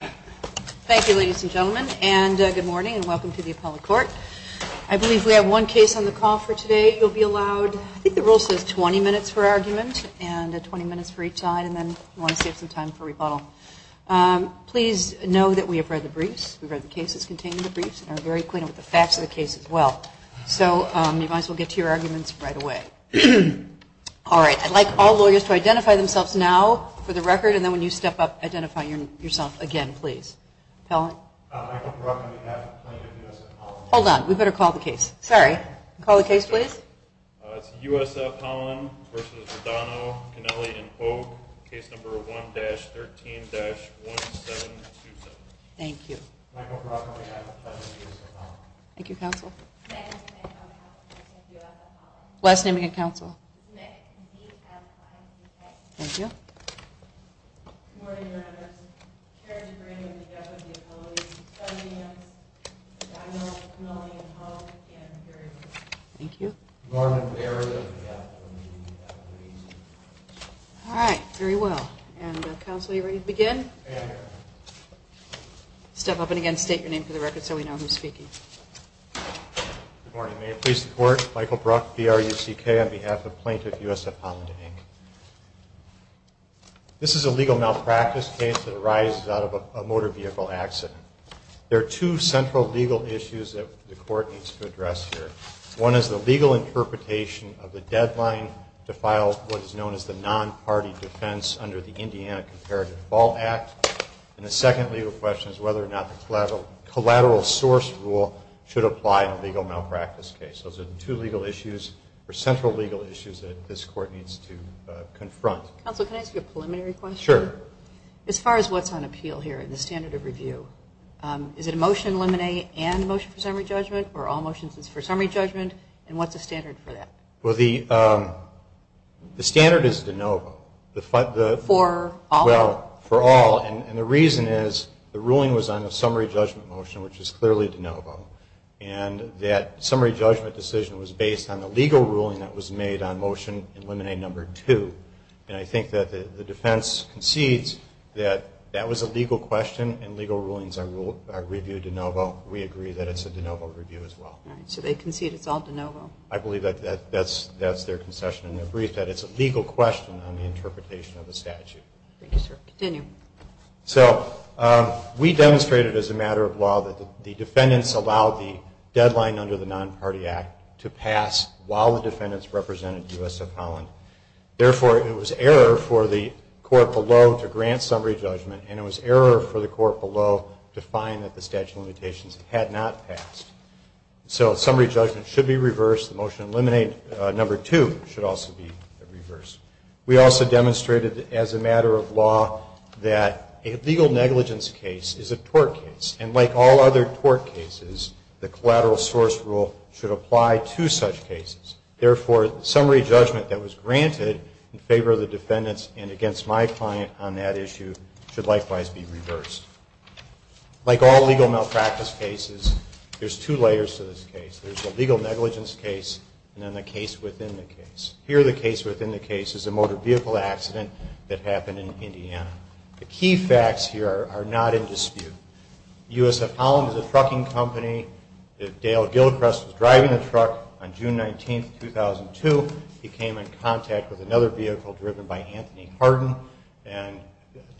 Thank you ladies and gentlemen, and good morning and welcome to the appellate court. I believe we have one case on the call for today. You'll be allowed, I think the rule says 20 minutes for argument, and 20 minutes for each side, and then you'll want to save some time for rebuttal. Please know that we have read the briefs, we've read the cases contained in the briefs, and are very acquainted with the facts of the case as well. So you might as well get to your arguments right away. All right, I'd like all lawyers to identify themselves now for the record, and then when you step up, identify yourself again please. Hold on, we better call the case. Sorry, call the case please. It's USF Holland v. Radono, Cameli & Hoag, case number 1-13-1727. Thank you. Thank you. All right, very well. And counsel, are you ready to begin? Step up and again state your name for the record so we know who's speaking. Thank you. This is a legal malpractice case that arises out of a motor vehicle accident. There are two central legal issues that the court needs to address here. One is the legal interpretation of the deadline to file what is known as the non-party defense under the Indiana Comparative Fault Act, and the second legal question is whether or not the collateral source rule should apply in a legal malpractice case. Those are the two legal issues, or central legal issues, that this court needs to confront. Counsel, can I ask you a preliminary question? Sure. As far as what's on appeal here in the standard of review, is it a motion in limine and motion for summary judgment, or all motions for summary judgment, and what's the standard for that? Well, the standard is de novo. For all? Well, for all, and the reason is the ruling was on a summary judgment motion, which is clearly de novo, and that summary judgment decision was based on the legal ruling that was made on motion in limine number two. And I think that the defense concedes that that was a legal question, and legal rulings are reviewed de novo. We agree that it's a de novo review as well. All right, so they concede it's all de novo. I believe that that's their concession, and they agree that it's a legal question on the interpretation of the statute. Thank you, sir. Continue. So we demonstrated as a matter of law that the defendants allowed the deadline under the Non-Party Act to pass while the defendants represented USF Holland. Therefore, it was error for the court below to grant summary judgment, and it was error for the court below to find that the statute of limitations had not passed. So summary judgment should be reversed, the motion in limine number two should also be reversed. We also demonstrated as a matter of law that a legal negligence case is a tort case, and like all other tort cases, the collateral source rule should apply to such cases. Therefore, the summary judgment that was granted in favor of the defendants and against my client on that issue should likewise be reversed. Like all legal malpractice cases, there's two layers to this case. There's the legal negligence case, and then the case within the case. Here, the case within the case is a motor vehicle accident that happened in Indiana. The key facts here are not in dispute. USF Holland is a trucking company. Dale Gilchrist was driving the truck on June 19, 2002. He came in contact with another vehicle driven by Anthony Hardin, and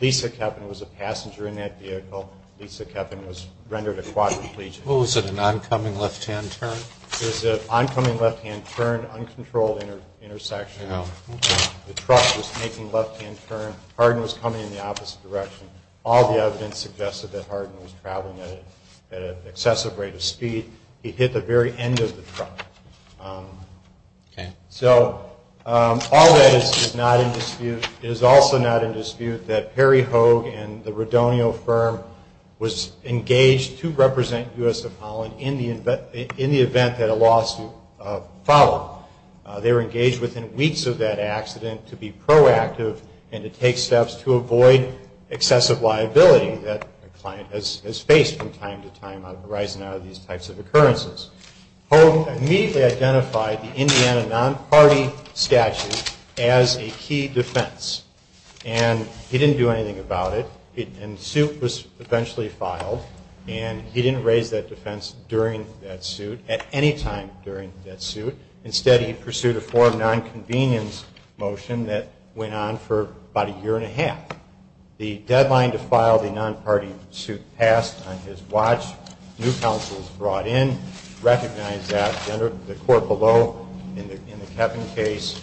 Lisa Kepin was a passenger in that vehicle. Lisa Kepin was rendered a quadriplegic. Was it an oncoming left-hand turn? It was an oncoming left-hand turn, uncontrolled intersection. The truck was making left-hand turn. Hardin was coming in the opposite direction. All the evidence suggested that Hardin was traveling at an excessive rate of speed. He hit the very end of the truck. So all that is not in dispute. It is also not in dispute that Perry Hogue and the Redonio firm was engaged to represent USF Holland in the event that a lawsuit followed. They were engaged within weeks of that accident to be proactive and to take steps to avoid excessive liability that a client has faced from time to time arising out of these types of occurrences. Hogue immediately identified the Indiana non-party statute as a key defense. He didn't do anything about it. The suit was eventually filed. He didn't raise that defense at any time during that suit. Instead, he pursued a form of nonconvenience motion that went on for about a year and a half. The deadline to file the non-party suit passed on his watch. New counsel was brought in, recognized that. The court below in the Kepin case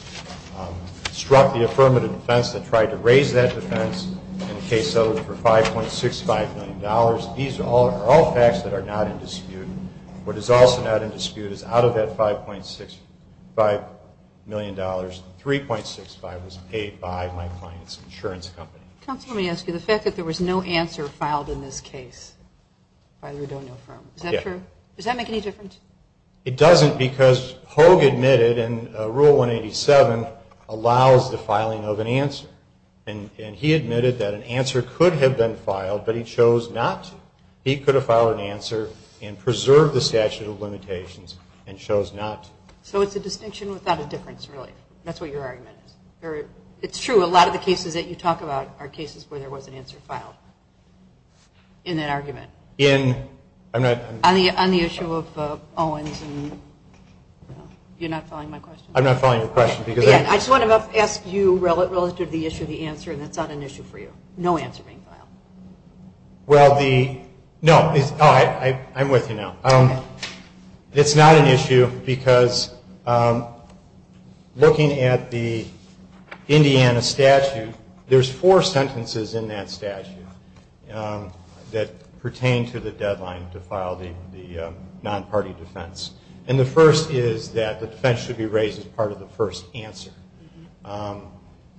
struck the affirmative defense and tried to raise that defense. And the case settled for $5.65 million. These are all facts that are not in dispute. What is also not in dispute is out of that $5.65 million, $3.65 was paid by my client's insurance company. Counsel, let me ask you, the fact that there was no answer filed in this case by the Rudonio firm. Is that true? Does that make any difference? It doesn't because Hogue admitted in Rule 187 allows the filing of an answer. And he admitted that an answer could have been filed, but he chose not to. He could have filed an answer and preserved the statute of limitations and chose not to. So it's a distinction without a difference, really? That's what your argument is? It's true, a lot of the cases that you talk about are cases where there was an answer filed in that argument. On the issue of Owens. You're not following my question? I'm not following your question. I just want to ask you relative to the issue of the answer, and that's not an issue for you. No answer being filed. I'm with you now. It's not an issue because looking at the Indiana statute, there's four sentences in that statute that pertain to the deadline to file the non-party defense. And the first is that the defense should be raised as part of the first answer.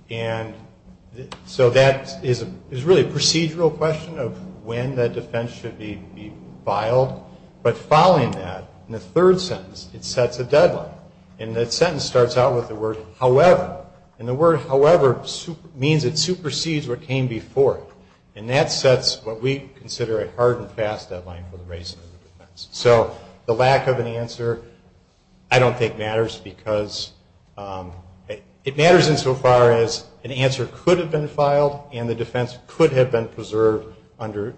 And so that is really a procedural question of when that defense should be filed. But following that, in the third sentence, it sets a deadline. And that sentence starts out with the word however. And the word however means it supersedes what came before it. And that sets what we consider a hard and fast deadline for the raising of the defense. So the lack of an answer I don't think matters because it matters insofar as an answer could have been filed and the defense could have been preserved under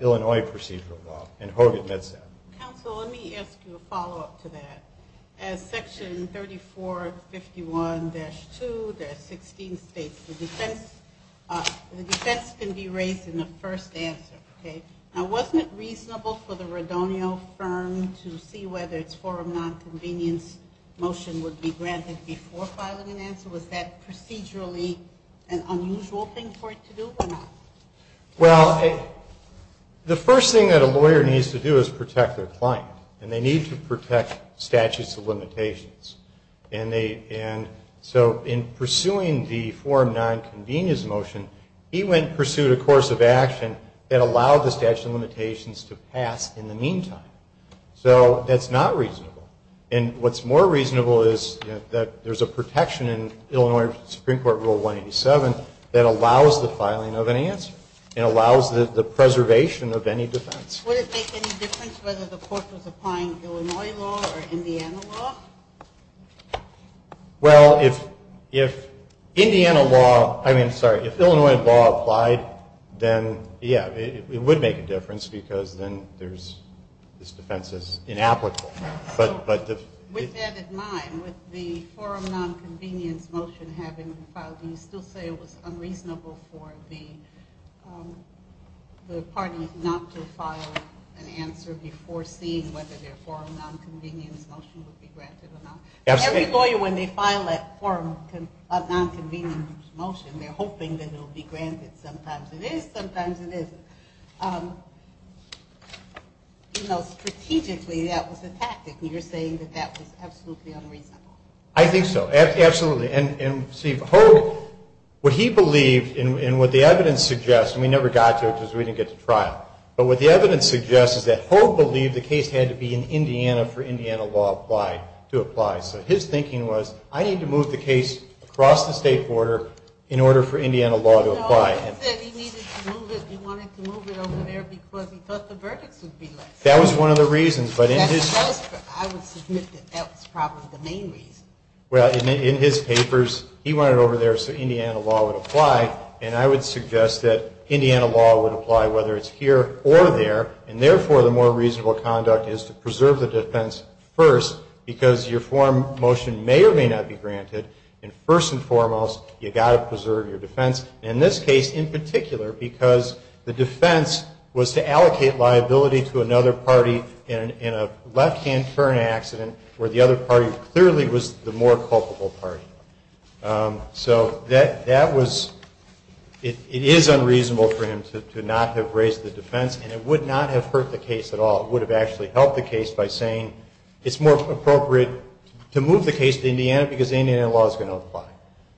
Illinois procedural law. And Hogue admits that. Counsel, let me ask you a follow-up to that. As Section 3451-2-16 states, the defense can be raised in the first answer. Now, wasn't it reasonable for the Radonio firm to see whether its forum nonconvenience motion would be granted before filing an answer? Was that procedurally an unusual thing for it to do or not? Well, the first thing that a lawyer needs to do is protect their client. And they need to protect statutes of limitations. And so in pursuing the forum nonconvenience motion, he went and pursued a course of action that allowed the statute of limitations to pass in the meantime. So that's not reasonable. And what's more reasonable is that there's a protection in Illinois Supreme Court Rule 187 that allows the filing of an answer. It allows the preservation of any defense. Would it make any difference whether the court was applying Illinois law or Indiana law? Well, if Indiana law, I mean, sorry, if Illinois law applied, then yeah, it would make a difference because then this defense is inapplicable. With that in mind, with the forum nonconvenience motion having been filed, do you still say it was unreasonable for the party not to file an answer before seeing whether their forum nonconvenience motion would be granted or not? Every lawyer, when they file that forum nonconvenience motion, they're hoping that it will be granted. Sometimes it is. Sometimes it isn't. Strategically, that was a tactic. And you're saying that that was absolutely unreasonable? I think so. Absolutely. And see, what he believed and what the evidence suggests, and we never got to it because we didn't get to trial, but what the evidence suggests is that Hogue believed the case had to be in Indiana for Indiana law to apply. So his thinking was, I need to move the case across the state border in order for Indiana law to apply. No, he said he wanted to move it over there because he thought the verdicts would be less. That was one of the reasons. I would submit that that was probably the main reason. Well, in his papers, he wanted it over there so Indiana law would apply. And I would suggest that Indiana law would apply whether it's here or there. And therefore, the more reasonable conduct is to preserve the defense first because your forum motion may or may not be granted. And first and foremost, you've got to preserve your defense. And in this case, in particular, because the defense was to allocate liability to another party in a left-hand turn accident where the other party clearly was the more culpable party. So that was it is unreasonable for him to not have raised the defense, and it would not have hurt the case at all. It would have actually helped the case by saying it's more appropriate to move the case to Indiana because Indiana law is going to apply.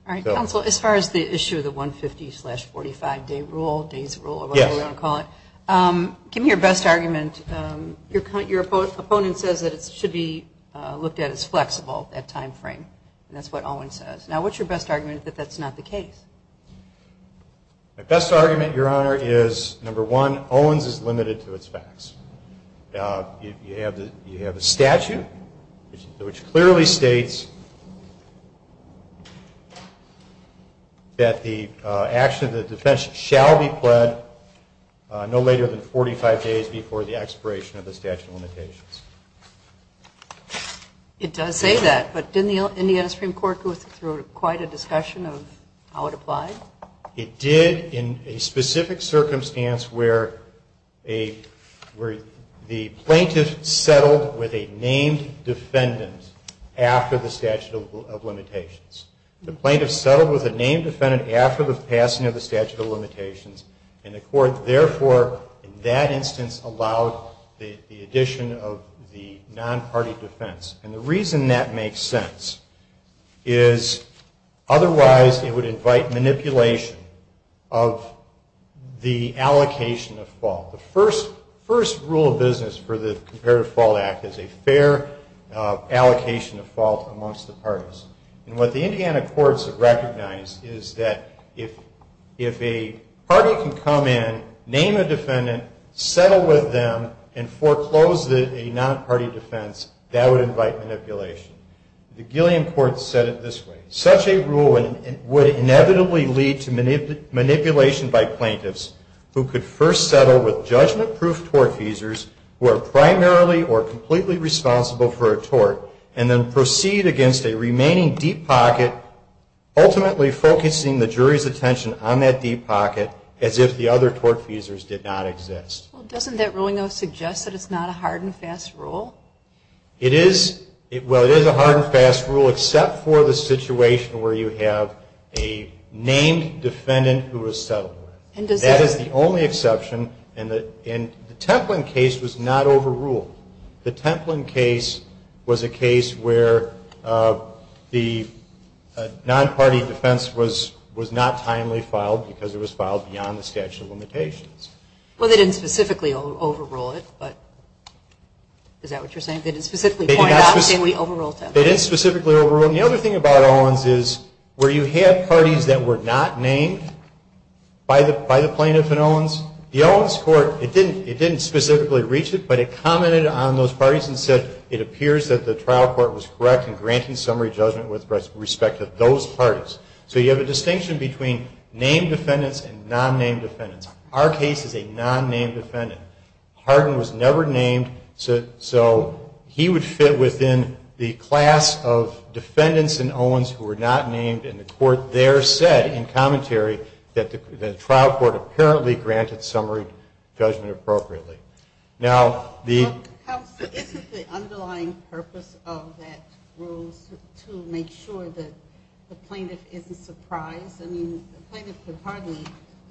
All right. Counsel, as far as the issue of the 150 slash 45 day rule, day's rule, whatever you want to call it, give me your best argument. Your opponent says that it should be looked at as flexible at time frame. That's what Owens says. Now, what's your best argument that that's not the case? My best argument, Your Honor, is number one, Owens is limited to its facts. You have a statute which clearly states that the action of the defense shall be pled no later than 45 days before the expiration of the statute of limitations. It does say that, but didn't the Indiana Supreme Court go through quite a discussion of how it applied? It did in a specific circumstance where the plaintiff settled with a named defendant after the statute of limitations. The plaintiff settled with a named defendant after the passing of the statute of limitations, and the court, therefore, in that instance allowed the addition of the non-party defense. And the reason that is a manipulation of the allocation of fault. The first rule of business for the Comparative Fault Act is a fair allocation of fault amongst the parties. And what the Indiana courts have recognized is that if a party can come in, name a defendant, settle with them, and foreclose a non-party defense, that would invite manipulation. The Gilliam court said it this way. Such a rule would inevitably lead to manipulation by plaintiffs who could first settle with judgment-proof tortfeasors who are primarily or completely responsible for a tort, and then proceed against a remaining deep pocket, ultimately focusing the jury's attention on that deep pocket as if the other tortfeasors did not exist. Well, doesn't that ruling, though, suggest that it's not a hard and fast rule? Well, it is a hard and fast rule, except for the situation where you have a named defendant who was settled with. That is the only exception, and the Templin case was not overruled. The Templin case was a case where the non-party defense was not timely filed because it was filed beyond the statute of limitations. Well, they didn't specifically overrule it, but is that what you're saying? They didn't specifically point out, and we overruled that. They didn't specifically overrule it. And the other thing about Owens is where you have parties that were not named by the plaintiff in Owens, the Owens court, it didn't specifically reach it, but it commented on those parties and said it appears that the trial court was correct in granting summary judgment with respect to those parties. So you have a distinction between named defendants and non-named defendants. Our case is a non-named defendant. Harden was never named, so he would fit within the class of defendants in Owens who were not named, and the court there said in commentary that the trial court apparently granted summary judgment appropriately. Isn't the underlying purpose of that rule to make sure that the plaintiff isn't surprised? I mean, the plaintiff could hardly,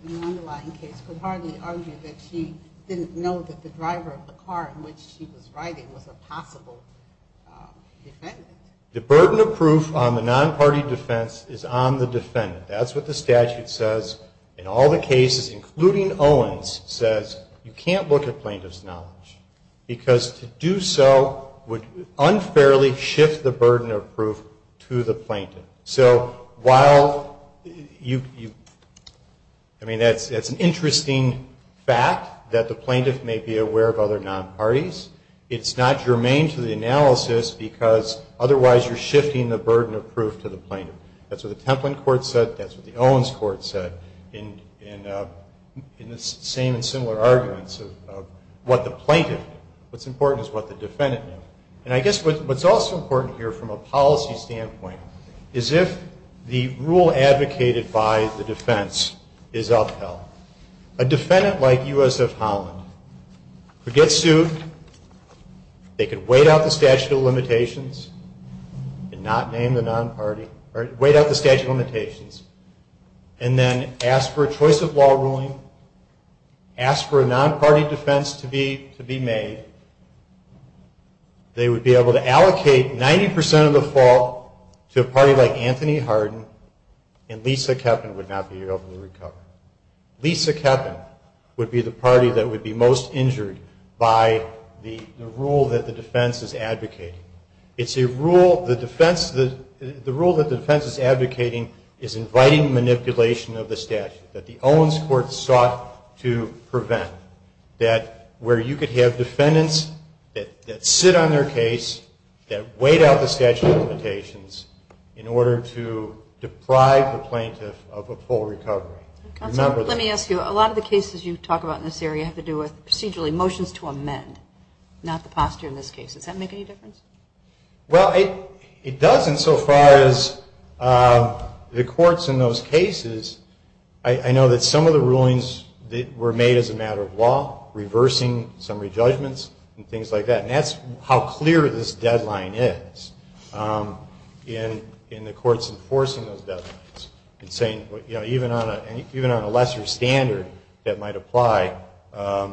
in the underlying case, could hardly argue that she didn't know that the driver of the car in which she was riding was a possible defendant. The burden of proof on the non-party defense is on the defendant. That's what the statute says. In all the cases, including Owens, it says you can't look at plaintiff's knowledge because to do so would unfairly shift the burden of proof to the plaintiff. So while you, I mean, that's an interesting fact that the plaintiff may be aware of other non-parties, it's not germane to the analysis because otherwise you're shifting the burden of proof to the plaintiff. That's what the Templin court said. That's what the Owens court said in the same and similar arguments of what the plaintiff knew. What's important is what the defendant knew. And I guess what's also important here from a policy standpoint is if the rule advocated by the defense is upheld, a defendant like USF Holland could get sued. They could wait out the statute of limitations and not name the non-party or wait out the statute of limitations and then ask for a choice of law ruling, ask for a non-party defense to be made. They would be able to allocate 90% of the fault to a party like Anthony Harden and Lisa Kepin would not be able to recover. Lisa Kepin would be the party that would be most injured by the rule that the defense is advocating. The rule that the defense is advocating is inviting manipulation of the statute that the Owens court sought to prevent. That where you could have defendants that sit on their case, that wait out the statute of limitations in order to deprive the plaintiff of a full recovery. Let me ask you, a lot of the cases you talk about in this area have to do with procedural emotions to amend, not the posture in this case. Does that make any difference? Well, it doesn't so far as the courts in those cases, I know that some of the rulings were made as a matter of law, reversing summary judgments and things like that and that's how clear this deadline is in the courts enforcing those deadlines and saying even on a lesser standard that might apply, the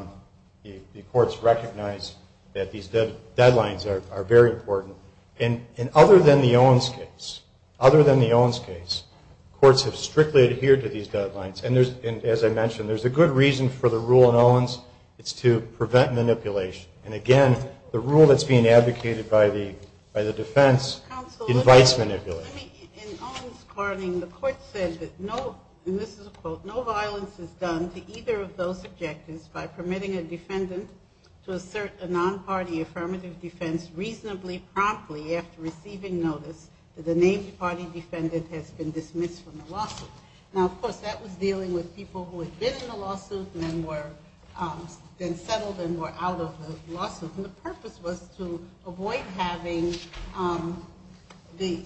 courts recognize that these deadlines are very important and other than the Owens case, other than the Owens case, courts have strictly adhered to these deadlines and as I mentioned, there's a good reason for the rule in Owens, it's to prevent manipulation and again, the rule that's being advocated by the defense invites manipulation. In Owens, the court said that no, and this is a quote, no violence is done to either of those objectives by permitting a defendant to assert a non-party affirmative defense reasonably promptly after receiving notice that the named party defendant has been dismissed from the lawsuit. Now of course, that was dealing with people who had been in the lawsuit and then settled and were out of the lawsuit and the purpose was to avoid having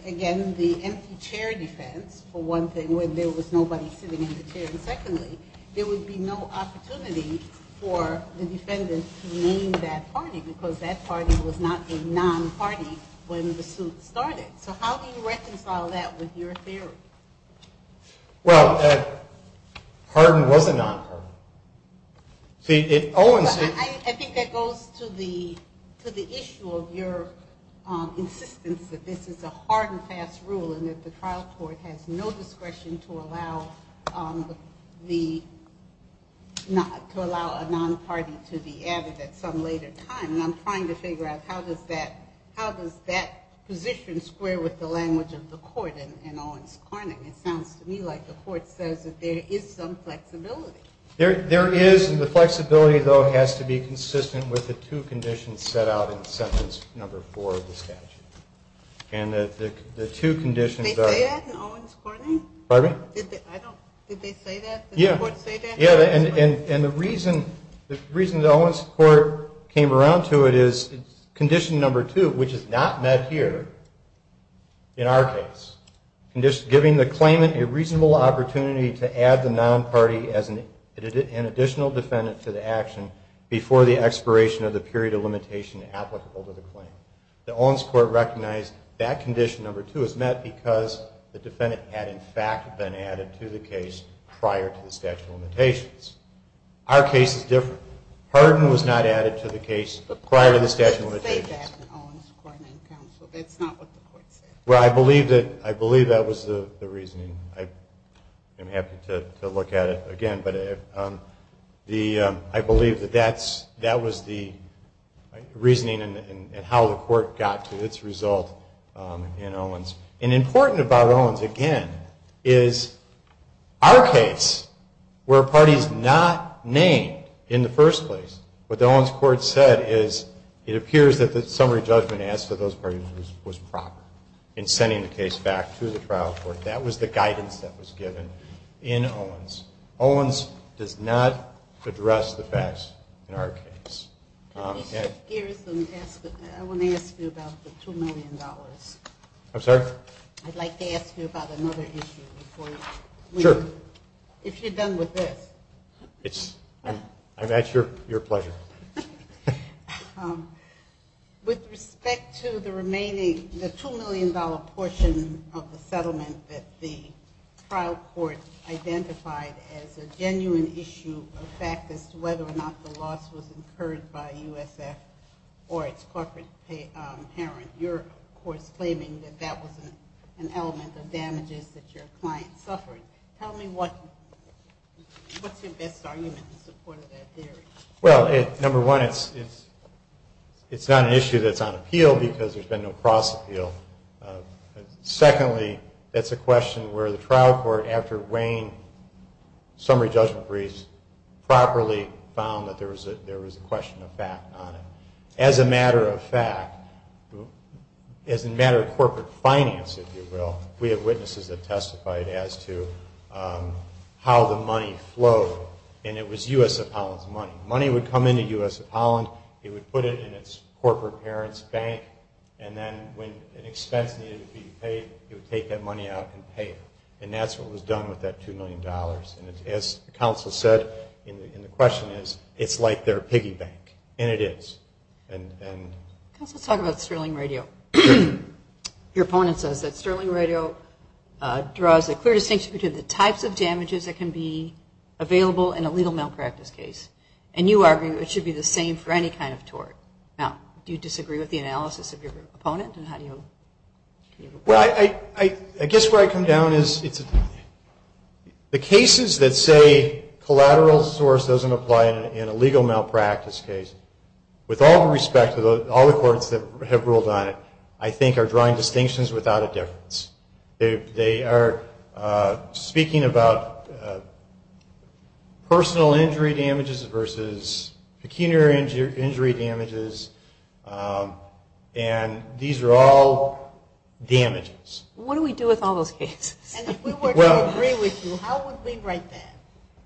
again, the empty chair defense for one thing where there was nobody sitting in the chair and secondly, there would be no opportunity for the defendant to name that party because that party was not a non-party when the suit started. So how do you reconcile that with your theory? Well, pardon was a non-pardon. I think that goes to the issue of your insistence that this is a hard and fast rule and that the trial court has no discretion to allow a non-party to be added at some later time and I'm trying to figure out how does that position square with the language of the court in Owens-Corning. It sounds to me like the court says that there is some flexibility. There is and the flexibility though has to be consistent with the two conditions set out in sentence number four of the statute. Did they say that in Owens-Corning? Did the court say that? Yeah, and the reason the Owens court came around to it is condition number two, which is not met here in our case, giving the claimant a reasonable opportunity to add the non-party as an additional defendant to the action before the expiration of the period of limitation applicable to the claim. The Owens court recognized that condition number two is met because the defendant had in fact been added to the case prior to the statute of limitations. Our case is different. Pardon was not added to the case prior to the statute of limitations. But the court didn't say that in Owens-Corning. That's not what the court said. Well, I believe that was the reasoning. I'm happy to look at it again, but I believe that that was the reasoning and how the court got to its result in Owens. And important about Owens, again, is our case were parties not named in the first place. What the Owens court said is it appears that the summary judgment as to those parties was proper in sending the case back to the trial court. That was the guidance that was given in Owens. Owens does not address the facts in our case. I want to ask you about the $2 million. I'm sorry? I'd like to ask you about another issue. Sure. If you're done with this. I'm at your pleasure. With respect to the remaining, the $2 million portion of the settlement that the trial court identified as a genuine issue of fact as to whether or not the loss was incurred by USF or its corporate parent, you're of course claiming that that was an element of damages that your client suffered. Tell me what's your best argument in support of that theory? Well, number one, it's not an issue that's on appeal because there's been no cross appeal. Secondly, that's a question where the trial court, after weighing summary judgment briefs, properly found that there was a question of fact on it. As a matter of fact, as a matter of corporate finance, if you will, we have witnesses that testified as to how the money flowed. And it was USF Holland's money. Money would come into USF Holland, it would put it in its corporate parent's bank, and then when an expense needed to be paid, it would take that money out and pay it. And that's what was done with that $2 million. And as the counsel said, and the question is, it's like their piggy bank. And it is. Counsel, let's talk about Sterling Radio. Your opponent says that Sterling Radio draws a clear distinction between the types of damages that can be available in a legal malpractice case. And you argue it should be the same for any kind of tort. Now, do you disagree with the analysis of your opponent? I guess where I come down is the cases that say collateral source doesn't apply in a legal malpractice case, with all due respect to all the courts that have ruled on it, I think are drawing distinctions without a difference. They are speaking about personal injury damages versus pecuniary injury damages, and these are all damages. What do we do with all those cases? And if we were to agree with you, how would we write that?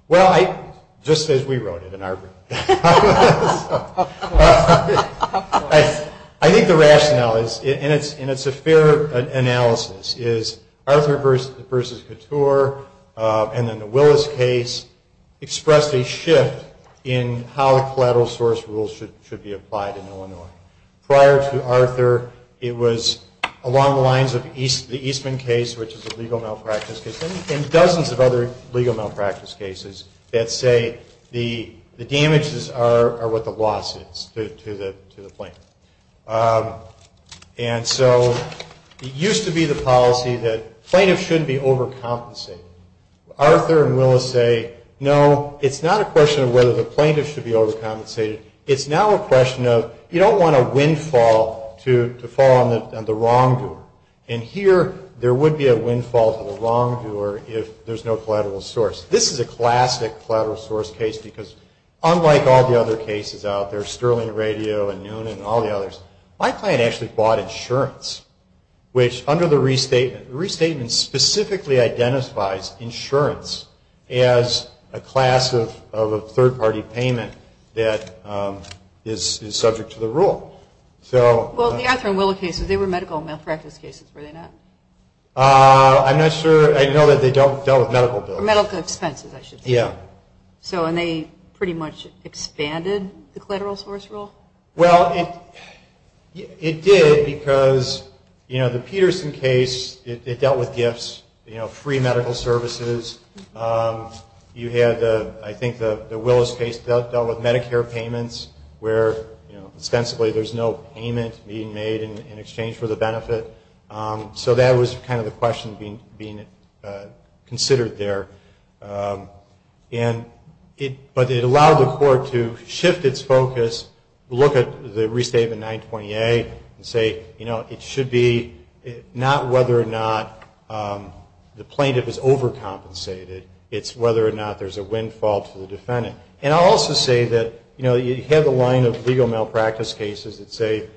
Well, just as we wrote it in our group. I think the rationale is, and it's a fair analysis, is Arthur versus Couture, and then the Willis case, expressed a shift in how the collateral source rules should be applied in Illinois. Prior to Arthur, it was along the lines of the Eastman case, which is a legal malpractice case, and dozens of other legal malpractice cases that say the damages are what the loss is to the plaintiff. And so it used to be the policy that plaintiffs shouldn't be overcompensated. Arthur and Willis say, no, it's not a question of whether the plaintiff should be overcompensated. It's now a question of, you don't want a windfall to fall on the wrongdoer. And here, there would be a windfall to the wrongdoer if there's no collateral source. This is a classic collateral source case, because unlike all the other cases out there, Sterling Radio and Noonan and all the others, my client actually bought insurance, which under the restatement, the restatement specifically identifies insurance as a class of a third-party payment that is subject to the rule. Well, the Arthur and Willis cases, they were medical malpractice cases, were they not? I'm not sure. I know that they dealt with medical bills. Medical expenses, I should say. And they pretty much expanded the collateral source rule. Well, it did because, you know, the Peterson case, it dealt with gifts, you know, free medical services. You had, I think, the Willis case dealt with Medicare payments where, you know, ostensibly there's no payment being made in exchange for the benefit. So that was kind of the question being considered there. And it, but it allowed the court to shift its focus, look at the restatement 928 and say, you know, it should be not whether or not the plaintiff is overcompensated. It's whether or not there's a windfall to the defendant. And I'll also say that, you know, you have a line of legal malpractice cases that say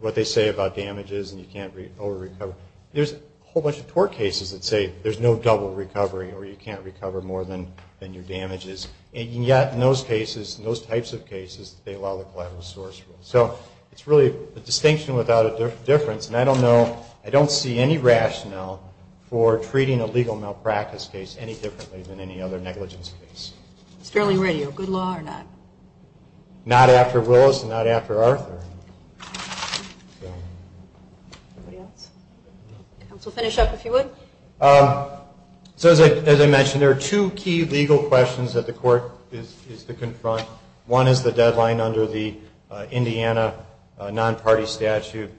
what they say about damages and you can't overrecover. There's a whole bunch of tort cases that say there's no double recovery or you can't recover more than your damages. And yet in those cases, in those types of cases, they allow the collateral source rule. So it's really a distinction without a difference. And I don't know, I don't see any rationale for treating a legal malpractice case any differently than any other negligence case. It's fairly radio. Good law or not? Not after Willis and not after Arthur. Anybody else? Counsel, finish up if you would. So as I mentioned, there are two key legal questions that the court is to confront. One is the deadline under the Indiana non-party statute.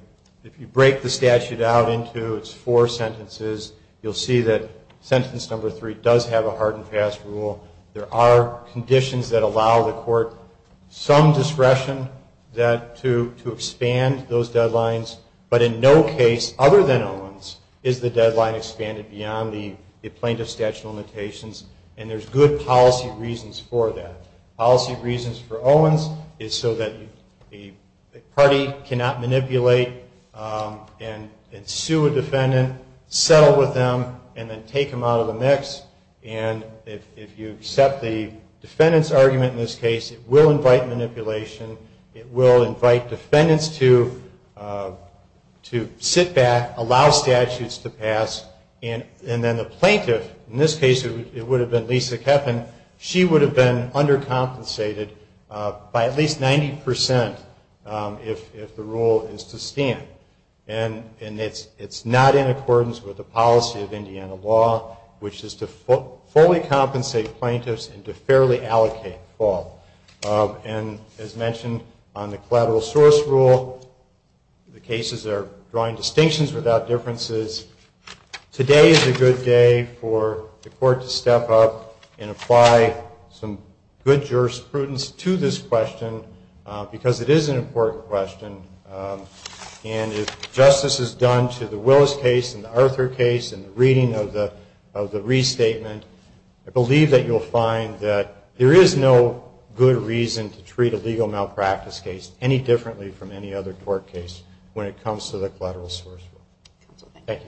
If you break the statute out into its four sentences, you'll see that sentence number three does have a hard and fast rule. There are conditions that allow the court some discretion to expand those deadlines. But in no case other than Owens is the deadline expanded beyond the plaintiff's statute limitations. And there's good policy reasons for that. Policy reasons for Owens is so that the party cannot manipulate and sue a defendant, settle with them, and then take them out of the mix. And if you accept the defendant's argument in this case, it will invite manipulation. It will invite defendants to sit back, allow statutes to pass. And then the plaintiff, in this case it would have been Lisa Keffin, she would have been undercompensated by at least 90% if the rule is to stand. And it's not in accordance with the policy of Indiana law, which is to fully compensate plaintiffs and to fairly allocate the fault. And as mentioned on the collateral source rule, the cases are drawing distinctions without differences. Today is a good day for the court to step up and apply some good jurisprudence to this question because it is an important question. And if justice is done to the Willis case and the Arthur case and the reading of the restatement, I believe that you'll find that there is no good reason to treat a legal malpractice case any differently from any other court case when it comes to the collateral source rule. Thank you.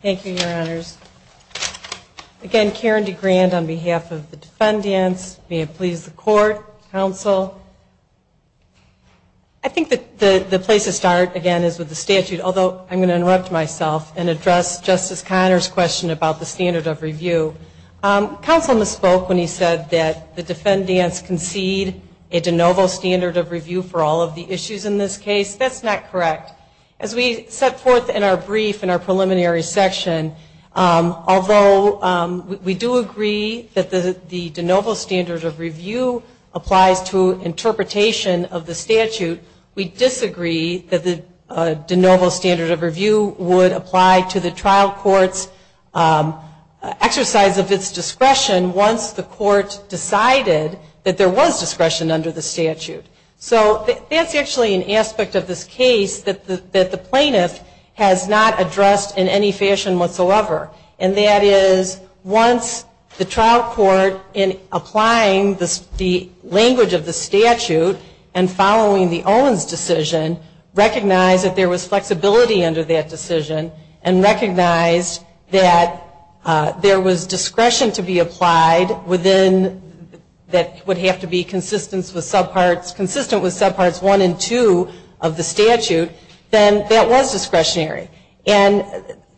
Thank you, your honors. Again, Karen DeGrand on behalf of the defendants, may it please the court, counsel. I think the place to start again is with the statute, although I'm going to interrupt myself and address Justice Conner's question about the standard of review. Counsel misspoke when he said that the defendants concede a de novo standard of review for all of the issues in this case. That's not correct. As we set forth in our brief, in our preliminary section, although we do agree that the de novo standard of review applies to interpretation of the statute, we disagree that the de novo standard of review would apply to the trial court's exercise of its discretion once the court decided that there was discretion under the statute. So that's actually an aspect of this case that the plaintiff has not addressed in any fashion whatsoever. And that is once the trial court in applying the language of the statute and following the Owens decision recognized that there was flexibility under that decision and recognized that there was discretion to be applied within that would have to be consistent with subparts 1 and 2 of the statute, then that was discretionary. And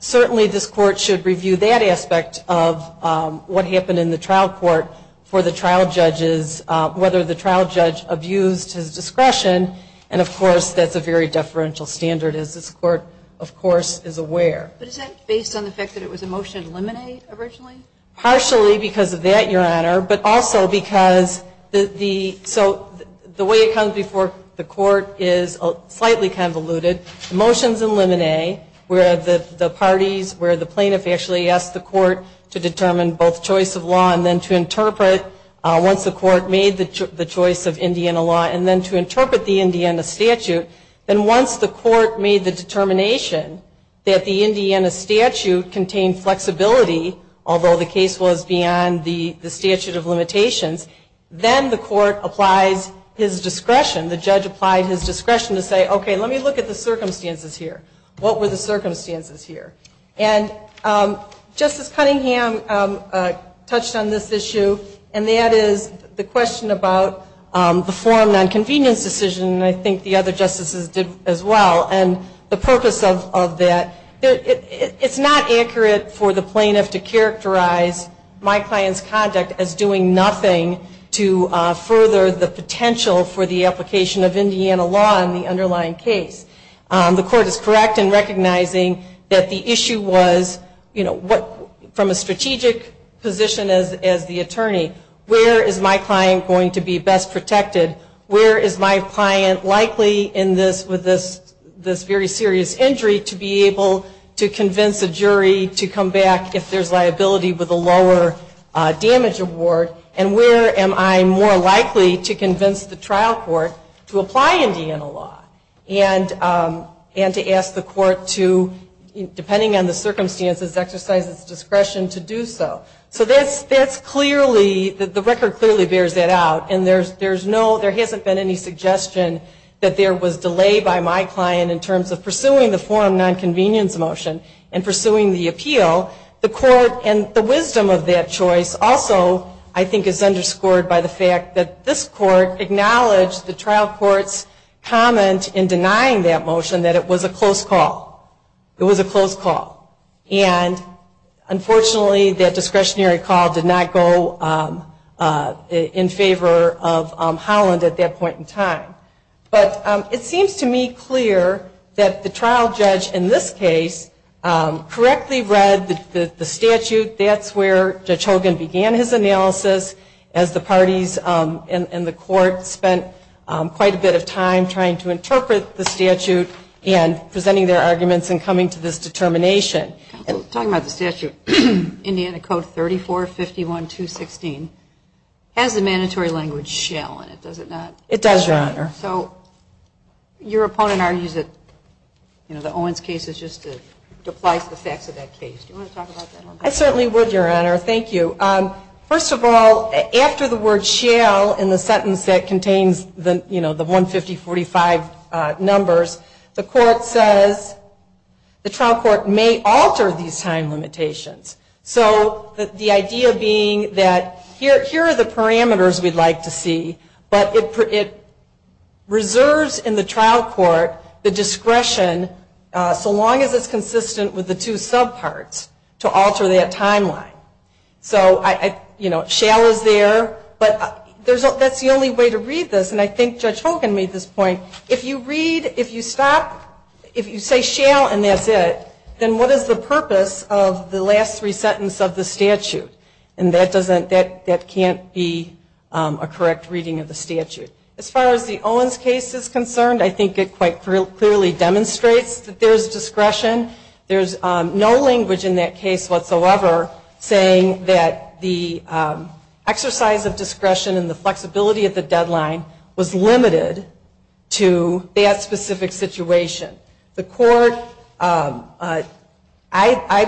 certainly this court should review that aspect of what happened in the trial court for the trial judges, whether the trial judge abused his discretion, and of course that's a very deferential standard as this court of course is aware. But is that based on the fact that it was a motion to eliminate originally? Partially because of that, Your Honor, but also because the way it comes before the court is slightly convoluted. The motion's eliminate where the parties, where the plaintiff actually asked the court to determine both choice of law and then to interpret once the court made the choice of Indiana law and then to interpret the Indiana statute, then once the court made the determination that the Indiana statute contained flexibility, although the case was beyond the statute of limitations, then the court applies his discretion, the judge applied his discretion to say, okay, let me look at the circumstances here. What were the circumstances here? And Justice Cunningham touched on this issue, and that is the question about the forum nonconvenience decision, and I think the other justices did as well, and the purpose of that, it's not accurate for the plaintiff to characterize my client's conduct as doing nothing to further the potential for the application of Indiana law in the underlying case. The court is correct in recognizing that the issue was, you know, from a strategic position as the attorney, where is my client going to be best protected? Where is my client likely in this, with this very serious injury, to be able to convince a jury to come back if there's liability with a lower damage award, and where am I more likely to convince the trial court to apply Indiana law and to ask the court to, depending on the circumstances, exercise its discretion to do so. So that's clearly, the record clearly bears that out, and there's no, there hasn't been any suggestion that there was delay by my client in terms of pursuing the forum nonconvenience motion and pursuing the appeal. The court, and the wisdom of that choice also, I think is underscored by the fact that this court acknowledged the trial court's comment in denying that motion that it was a close call. It was a close call. And unfortunately, that discretionary call did not go in favor of Holland at that point in time. But it seems to me clear that the trial judge in this case correctly read the statute. That's where Judge Hogan began his analysis, as the parties in the court spent quite a bit of time trying to interpret the statute and presenting their arguments and coming to this determination. Talking about the statute, Indiana Code 3451.216, has the mandatory language shall in it, does it not? It does, Your Honor. So your opponent argues that the Owens case is just to deplice the facts of that case. Do you want to talk about that? I certainly would, Your Honor, thank you. First of all, after the word shall in the sentence that contains the 15045 numbers, the court says the trial court may alter these time limitations. So the idea being that here are the parameters we'd like to see, but it reserves in the trial court the discretion, so long as it's consistent with the two subparts, to alter that timeline. Shall is there, but that's the only way to read this, and I think Judge Hogan made this point. If you read, if you stop, if you say shall and that's it, then what is the purpose of the last three sentences of the statute? And that can't be a correct reading of the statute. As far as the Owens case is concerned, I think it quite clearly demonstrates that there's discretion. There's no language in that case whatsoever saying that the exercise of discretion and the flexibility of the deadline was limited to that specific situation. The court, I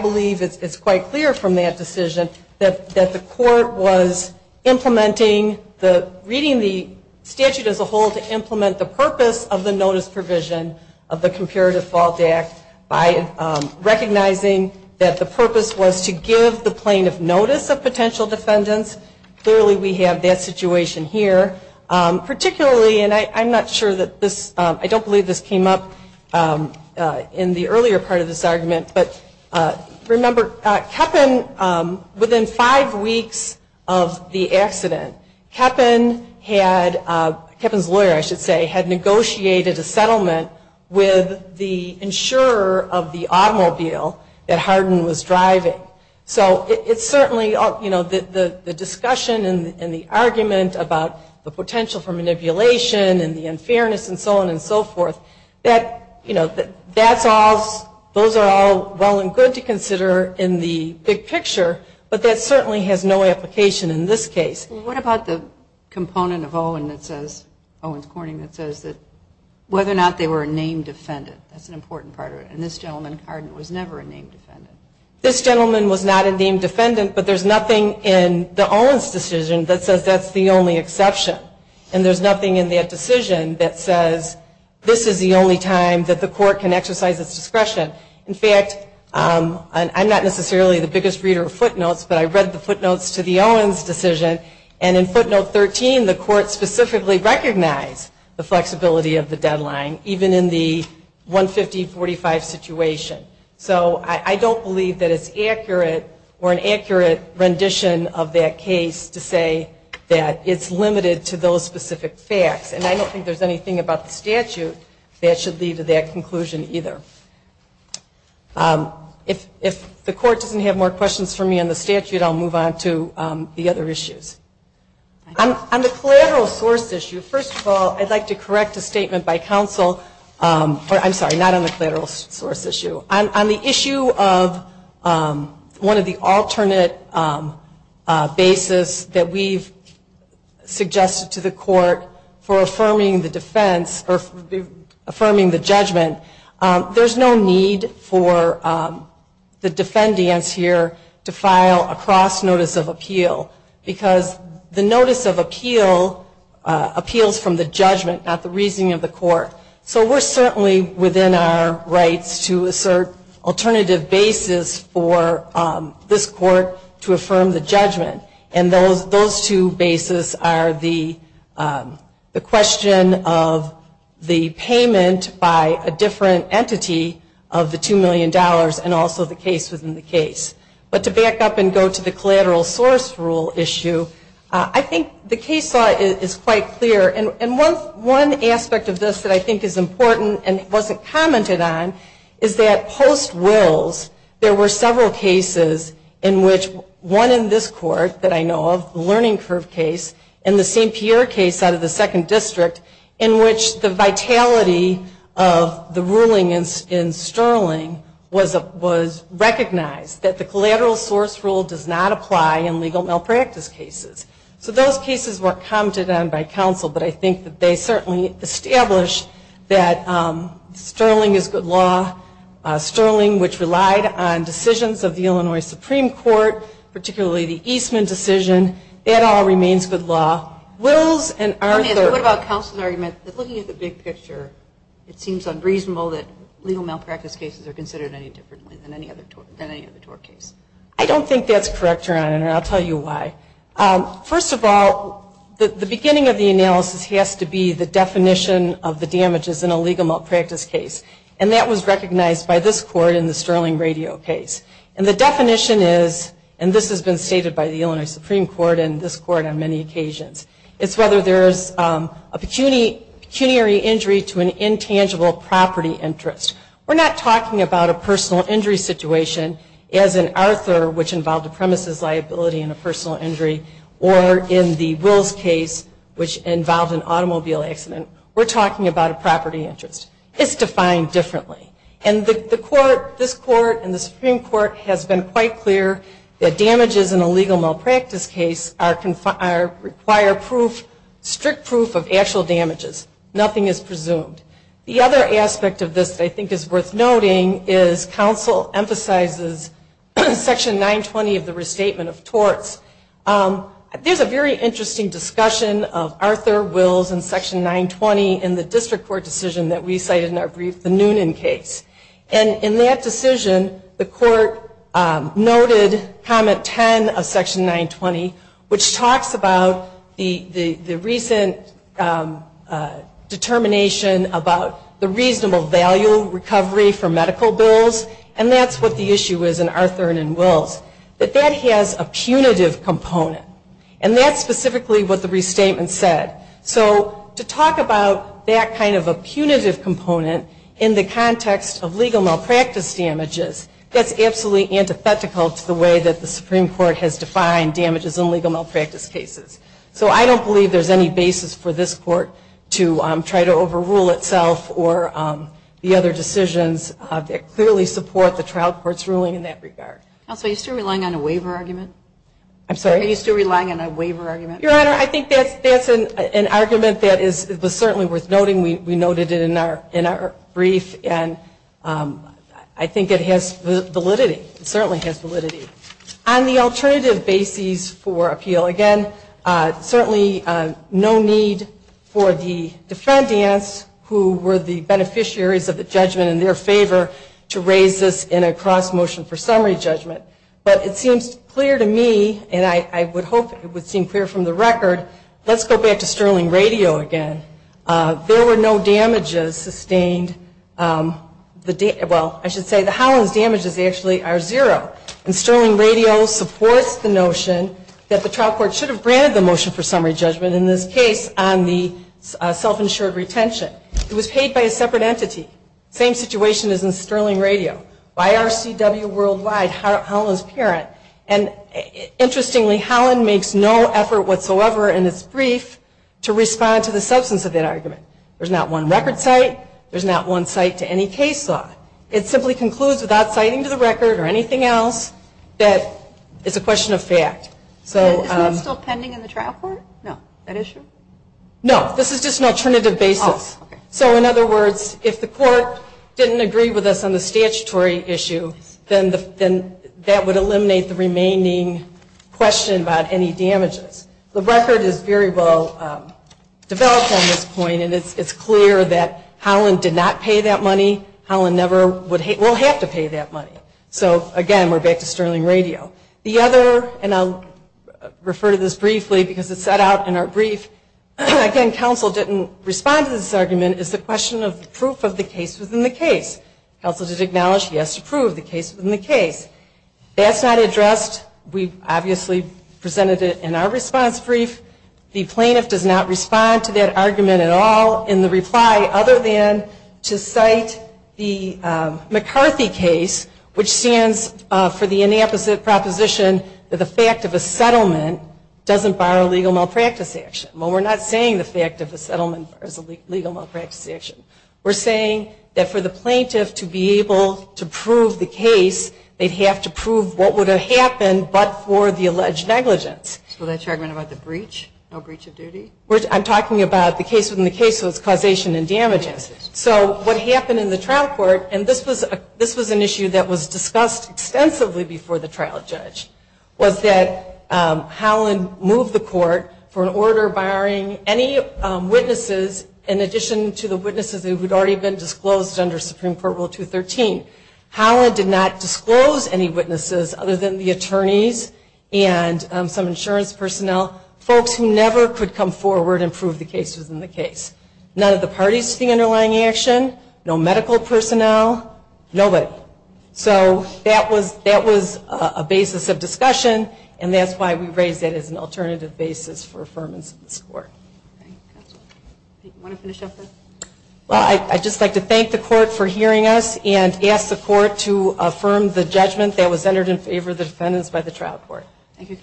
believe it's quite clear from that decision, that the court was implementing the, reading the statute as a whole to implement the purpose of the notice provision of the Comparative Fault Act by recognizing that the purpose was to give the plaintiff notice of potential defendants. Clearly we have that situation here. Particularly, and I'm not sure that this, I don't believe this came up in the earlier part of this argument, but remember Kepin, within five weeks of the accident, Kepin had, Kepin's lawyer I should say, had negotiated a settlement with the insurer of the automobile that Hardin was driving. So it's certainly, you know, the discussion and the argument about the potential for manipulation and the unfairness and so on and so forth, that, you know, that's all, those are all well and good to consider in the big picture, but that certainly has no application in this case. What about the component of Owen that says, Owen's Corning, that says that whether or not they were a named defendant, that's an important part of it, and this gentleman Hardin was never a named defendant. This gentleman was not a named defendant, but there's nothing in the Owens decision that says that's the only exception, and there's nothing in that decision that says this is the only time that the court can exercise its discretion. In fact, I'm not necessarily the biggest reader of footnotes, but I read the footnotes to the Owens decision, and in footnote 13 the court specifically recognized the flexibility of the deadline, even in the 150-45 situation. So I don't believe that it's accurate or an accurate rendition of that case to say that it's limited to those specific facts, and I don't think there's anything about the statute that should lead to that conclusion either. If the court doesn't have more questions for me on the statute, I'll move on to the other issues. On the collateral source issue, first of all, I'd like to correct a statement by counsel or I'm sorry, not on the collateral source issue. On the issue of one of the alternate bases that we've suggested to the court for affirming the defense or affirming the judgment, there's no need for the defendants here to file a cross notice of appeal, because the notice of appeal appeals from the judgment, not the reasoning of the court. So we're certainly within our rights to assert alternative bases for this court to affirm the judgment, and those two bases are the question of the payment by a different entity of the $2 million and also the case within the case. But to back up and go to the collateral source rule issue, I think the case law is quite clear, and one aspect of this that I think is important and wasn't commented on is that post Wills, there were several cases in which one in this court that I know of, the Learning Curve case, and the St. Pierre case out of the Second District, in which the vitality of the ruling in Sterling was recognized that the collateral source rule does not apply in legal malpractice cases. So those cases were commented on by counsel, but I think that they certainly established that Sterling is good law. Sterling, which relied on decisions of the Illinois Supreme Court, particularly the Eastman decision, it all remains good law. What about counsel's argument that looking at the big picture, it seems unreasonable that legal malpractice cases are considered any differently than any other tort case? I don't think that's correct, Your Honor, and I'll tell you why. First of all, the beginning of the analysis has to be the definition of the damages in a legal malpractice case, and that was recognized by this court in the Sterling Radio case. And the definition is, and this has been stated by the Illinois Supreme Court and this court on many occasions, it's whether there's a pecuniary injury to an intangible property interest. We're not talking about a personal injury situation, as in Arthur, which involved a premises liability and a personal injury, or in the Wills case, which involved an automobile accident. We're talking about a property interest. It's defined differently. And this court and the Supreme Court has been quite clear that damages in a legal malpractice case require proof, strict proof, of actual damages. Nothing is presumed. The other aspect of this that I think is worth noting is counsel emphasizes Section 920 of the Restatement of Torts. There's a very interesting discussion of Arthur, Wills, and Section 920 in the district court decision that we cited in our brief, the Noonan case. And in that decision, the court noted Comment 10 of Section 920, which talks about the recent determination about the reasonable value recovery for medical bills, and that's what the issue is in Arthur and in Wills. But that has a punitive component, and that's specifically what the restatement said. So to talk about that kind of a punitive component in the context of legal malpractice damages, that's absolutely antithetical to the way that the Supreme Court has defined damages in legal malpractice cases. So I don't believe there's any basis for this court to try to overrule itself or the other decisions that clearly support the trial court's ruling in that regard. I'm sorry, are you still relying on a waiver argument? Your Honor, I think that's an argument that is certainly worth noting. We noted it in our brief, and I think it has validity. It certainly has validity. On the alternative basis for appeal, again, certainly no need for the defendants who were the beneficiaries of the judgment in their favor to raise this in a cross-motion for summary judgment. But it seems clear to me, and I would hope it would seem clear from the record, let's go back to Sterling Radio again. There were no damages sustained. Well, I should say that Holland's damages actually are zero. And Sterling Radio supports the notion that the trial court should have granted the motion for summary judgment in this case on the self-insured retention. It was paid by a separate entity, same situation as in Sterling Radio. By RCW Worldwide, Holland's parent. And interestingly, Holland makes no effort whatsoever in its brief to respond to the substance of that argument. There's not one record cite. There's not one cite to any case law. It simply concludes without citing to the record or anything else that it's a question of fact. Isn't that still pending in the trial court? No, this is just an alternative basis. So in other words, if the court didn't agree with us on the statutory issue, then that would eliminate the remaining question about any damages. The record is very well developed on this point, and it's clear that Holland did not pay that money. Holland never would, will have to pay that money. So again, we're back to Sterling Radio. The other, and I'll refer to this briefly because it's set out in our brief, again, counsel didn't respond to this argument. It's the question of proof of the case within the case. Counsel did acknowledge he has to prove the case within the case. That's not addressed. We obviously presented it in our response brief. The plaintiff does not respond to that argument at all in the reply other than to cite the McCarthy case, which stands for the inapposite proposition that the fact of a settlement doesn't bar a legal malpractice action. Well, we're not saying the fact of the settlement is a legal malpractice action. We're saying that for the plaintiff to be able to prove the case, they'd have to prove what would have happened but for the alleged negligence. So that's your argument about the breach, no breach of duty? I'm talking about the case within the case, so it's causation and damages. So what happened in the trial court, and this was an issue that was discussed extensively before the trial judge, was that Holland moved the court for an order barring any witnesses in addition to the witnesses who had already been disclosed under Supreme Court Rule 213. Holland did not disclose any witnesses other than the attorneys and some insurance personnel, folks who never could come forward and prove the case within the case. None of the parties to the underlying action, no medical personnel, nobody. So that was a basis of discussion, and that's why we raised it as an alternative basis for affirmance in this court. I'd just like to thank the court for hearing us and ask the court to affirm the judgment that was entered in favor of the defendants by the trial court. Thank you.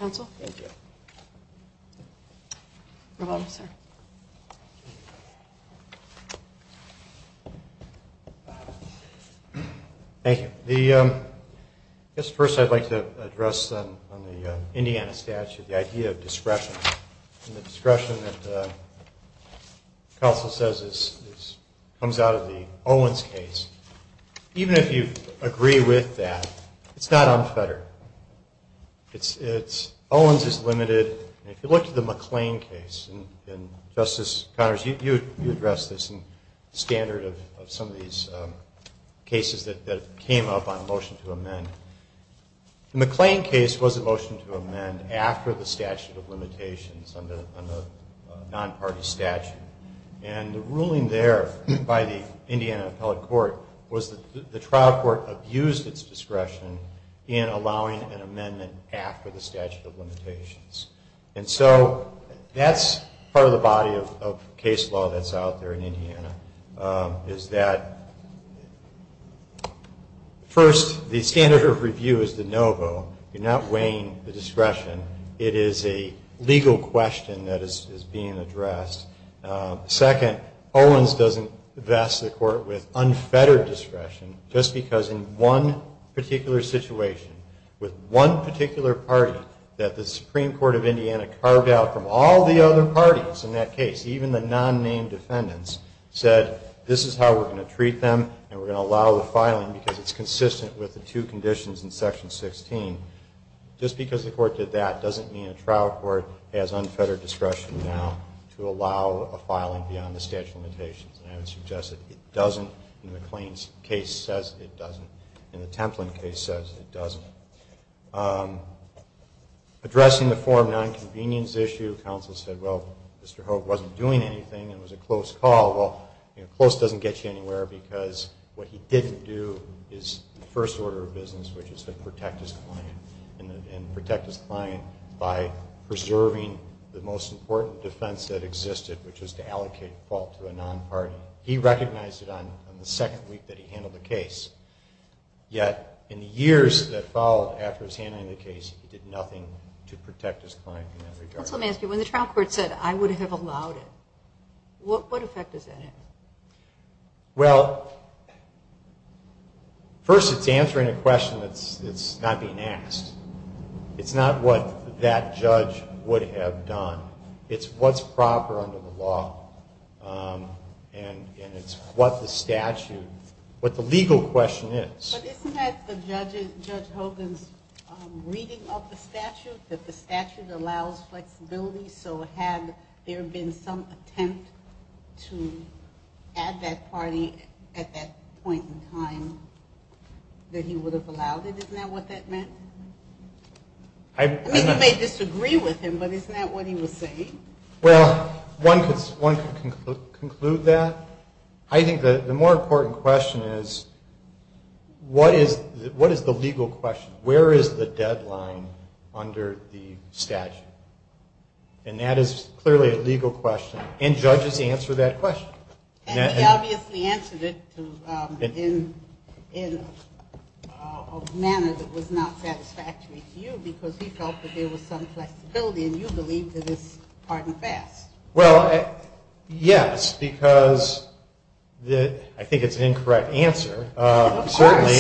I guess first I'd like to address on the Indiana statute the idea of discretion, and the discretion that counsel says comes out of the Owens case. Even if you agree with that, it's not unfettered. Owens is limited, and if you look at the McLean case, and Justice Connors, you addressed this in standard of some of these cases that came up on motion to amend. The McLean case was a motion to amend after the statute of limitations on the non-party statute, and the ruling there by the Indiana appellate court was that the trial court abused its discretion in allowing an amendment after the statute of limitations. And so that's part of the body of case law that's out there in Indiana, is that first, the standard of review is de novo. You're not weighing the discretion. It is a legal question that is being addressed. Second, Owens doesn't vest the court with unfettered discretion, just because in one particular situation, with one particular party, that the Supreme Court of Indiana carved out from all the other parties in that case, even the non-named defendants, said this is how we're going to treat them, and we're going to allow the filing because it's consistent with the two conditions in Section 16. Just because the court did that doesn't mean a trial court has unfettered discretion now to allow a filing beyond the statute of limitations. And I would suggest that it doesn't, and the McLean case says it doesn't, and the Templin case says it doesn't. Addressing the form nonconvenience issue, counsel said, well, Mr. Hope wasn't doing anything, it was a close call. Well, close doesn't get you anywhere, because what he didn't do is the first order of business, which is to protect his client, and protect his client by preserving the most important defense that existed, which was to allocate fault to a non-party. He recognized it on the second week that he handled the case. Yet in the years that followed after his handling of the case, he did nothing to protect his client in that regard. Well, first it's answering a question that's not being asked. It's not what that judge would have done. It's what's proper under the law, and it's what the statute, what the legal question is. But isn't that Judge Hogan's reading of the statute, that the statute allows flexibility? So had there been some attempt to add that party at that point in time that he would have allowed it? Isn't that what that meant? I mean, you may disagree with him, but isn't that what he was saying? Well, one could conclude that. I think the more important question is, what is the legal question? Where is the deadline under the statute? And that is clearly a legal question, and judges answer that question. And he obviously answered it in a manner that was not satisfactory to you, because he felt that there was some flexibility, and you believe that it's hard and fast. Well, yes, because I think it's an incorrect answer. Certainly.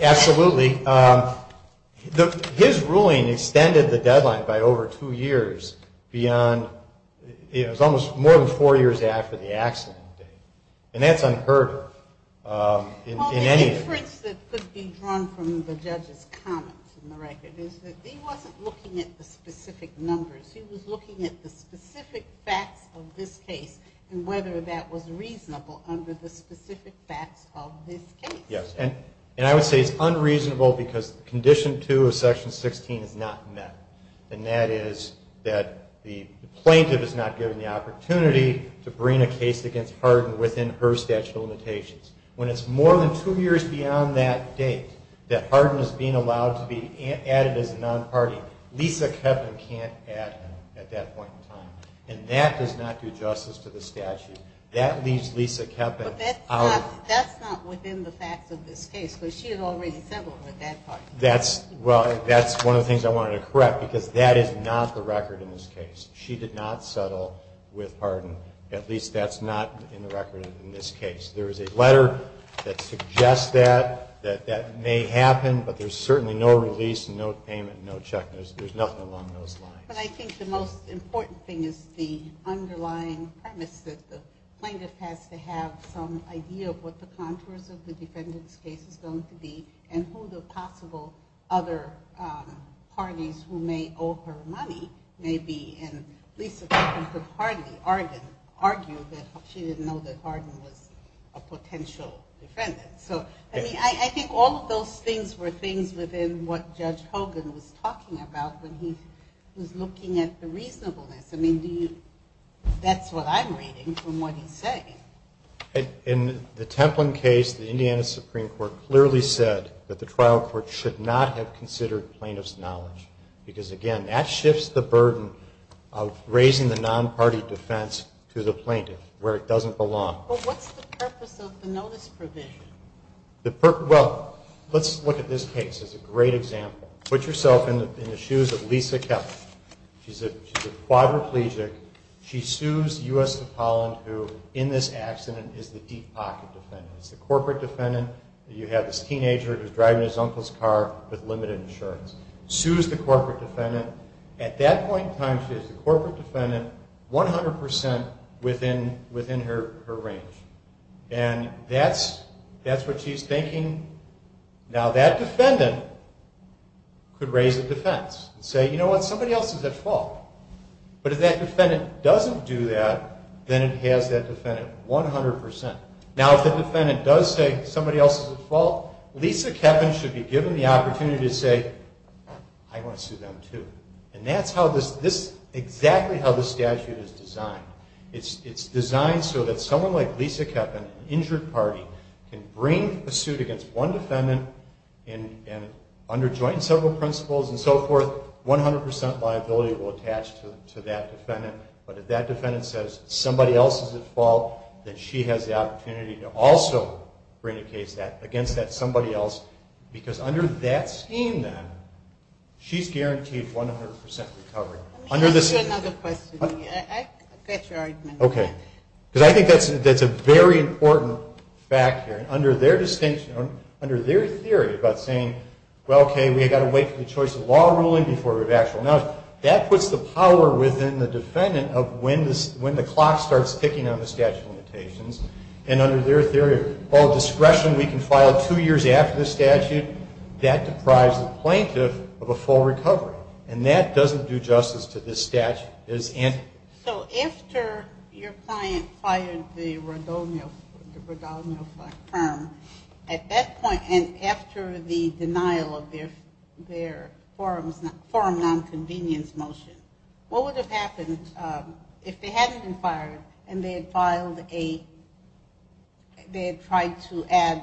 Absolutely. His ruling extended the deadline by over two years beyond, it was almost more than four years after the accident. And that's unheard of in anything. Well, the difference that could be drawn from the judge's comments in the record is that he wasn't looking at the specific numbers. He was looking at the specific facts of this case and whether that was reasonable under the specific facts of this case. Yes, and I would say it's unreasonable because Condition 2 of Section 16 is not met, and that is that the plaintiff is not given the opportunity to bring a case against Hardin within her statute of limitations. When it's more than two years beyond that date that Hardin is being allowed to be added as a non-party, Lisa Kepin can't add him at that point in time, and that does not do justice to the statute. That leaves Lisa Kepin out. That's not within the facts of this case, because she had already settled with that party. Well, that's one of the things I wanted to correct, because that is not the record in this case. She did not settle with Hardin. At least that's not in the record in this case. There is a letter that suggests that. That may happen, but there's certainly no release and no payment and no check. There's nothing along those lines. But I think the most important thing is the underlying premise that the plaintiff has to have some idea of what the contours of the defendant's case is going to be and who the possible other parties who may owe her money may be, and Lisa Kepin could hardly argue that she didn't know that Hardin was a potential defendant. I think all of those things were things within what Judge Hogan was talking about when he was looking at the reasonableness. That's what I'm reading from what he's saying. In the Templin case, the Indiana Supreme Court clearly said that the trial court should not have considered plaintiff's knowledge, because, again, that shifts the burden of raising the non-party defense to the plaintiff, where it doesn't belong. Well, let's look at this case as a great example. Put yourself in the shoes of Lisa Kepin. She's a quadriplegic. She sues U.S. Topoland, who in this accident is the deep pocket defendant. It's the corporate defendant. You have this teenager who's driving his uncle's car with limited insurance. Sues the corporate defendant. At that point in time, she has the corporate defendant 100% within her range. That's what she's thinking. Now, that defendant could raise the defense and say, you know what, somebody else is at fault. But if that defendant doesn't do that, then it has that defendant 100%. Now, if the defendant does say somebody else is at fault, Lisa Kepin should be given the opportunity to say, I want to sue them, too. And that's exactly how this statute is designed. It's designed so that someone like Lisa Kepin, an injured party, can bring a suit against one defendant under joint and several principles and so forth. 100% liability will attach to that defendant. But if that defendant says somebody else is at fault, then she has the opportunity to also bring a case against that somebody else. Because under that scheme, then, she's guaranteed 100% recovery. Let me ask you another question. I got your argument. Because I think that's a very important fact here. Under their theory about saying, well, okay, we've got to wait for the choice of law ruling before we have actual knowledge, that puts the power within the defendant of when the clock starts ticking on the statute of limitations. And under their theory of discretion, we can file two years after the statute, that deprives the plaintiff of a full recovery. And that doesn't do justice to this statute. So after your client fired the Rodonio firm, at that point, and after the denial of their forum nonconvenience motion, what would have happened if they hadn't been fired and they had filed a, they had tried to add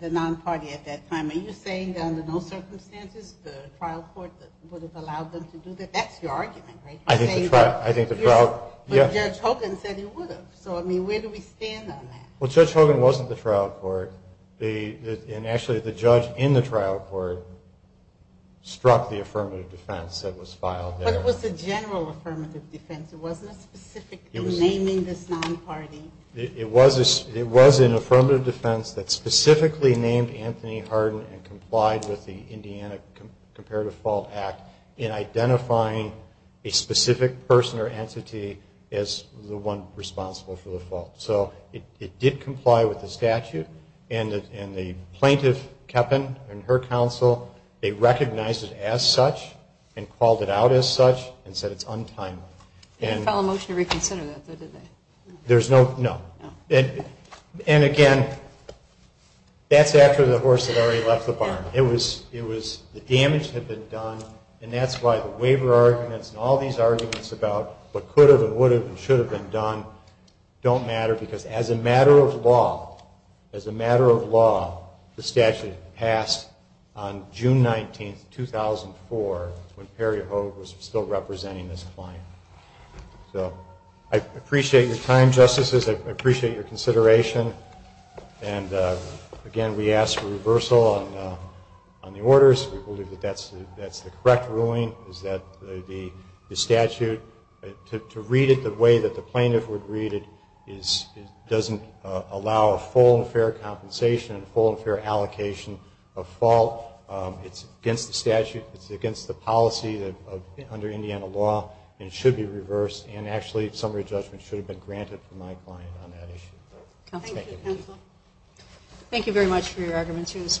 the non-party at that time? Are you saying that under no circumstances the trial court would have allowed them to do that? That's your argument, right? But Judge Hogan said he would have. So, I mean, where do we stand on that? Well, Judge Hogan wasn't the trial court. And actually, the judge in the trial court struck the affirmative defense that was filed there. But it was a general affirmative defense. It wasn't a specific naming this non-party. It was an affirmative defense that specifically named Anthony Harden and complied with the Indiana Comparative Fault Act in identifying a specific person or entity as the one responsible for the fault. So it did comply with the statute. And the plaintiff, Kepin, and her counsel, they recognized it as such and called it out as such and said it's untimely. They didn't file a motion to reconsider that, though, did they? No. And again, that's after the horse had already left the barn. It was the damage had been done, and that's why the waiver arguments and all these arguments about what could have and would have and should have been done don't matter because as a matter of law, as a matter of law, the statute passed on June 19, 2004, when Perry Hogue was still representing this client. So I appreciate your time, Justices. I appreciate your consideration. And again, we ask for reversal on the orders. We believe that that's the correct ruling, is that the statute, to read it the way that the plaintiff would read it doesn't allow a full and fair compensation and a full and fair allocation of fault. It's against the statute. It's against the policy under Indiana law, and it should be reversed. And actually, summary judgment should have been granted for my client on that issue. Thank you very much for your arguments here this morning.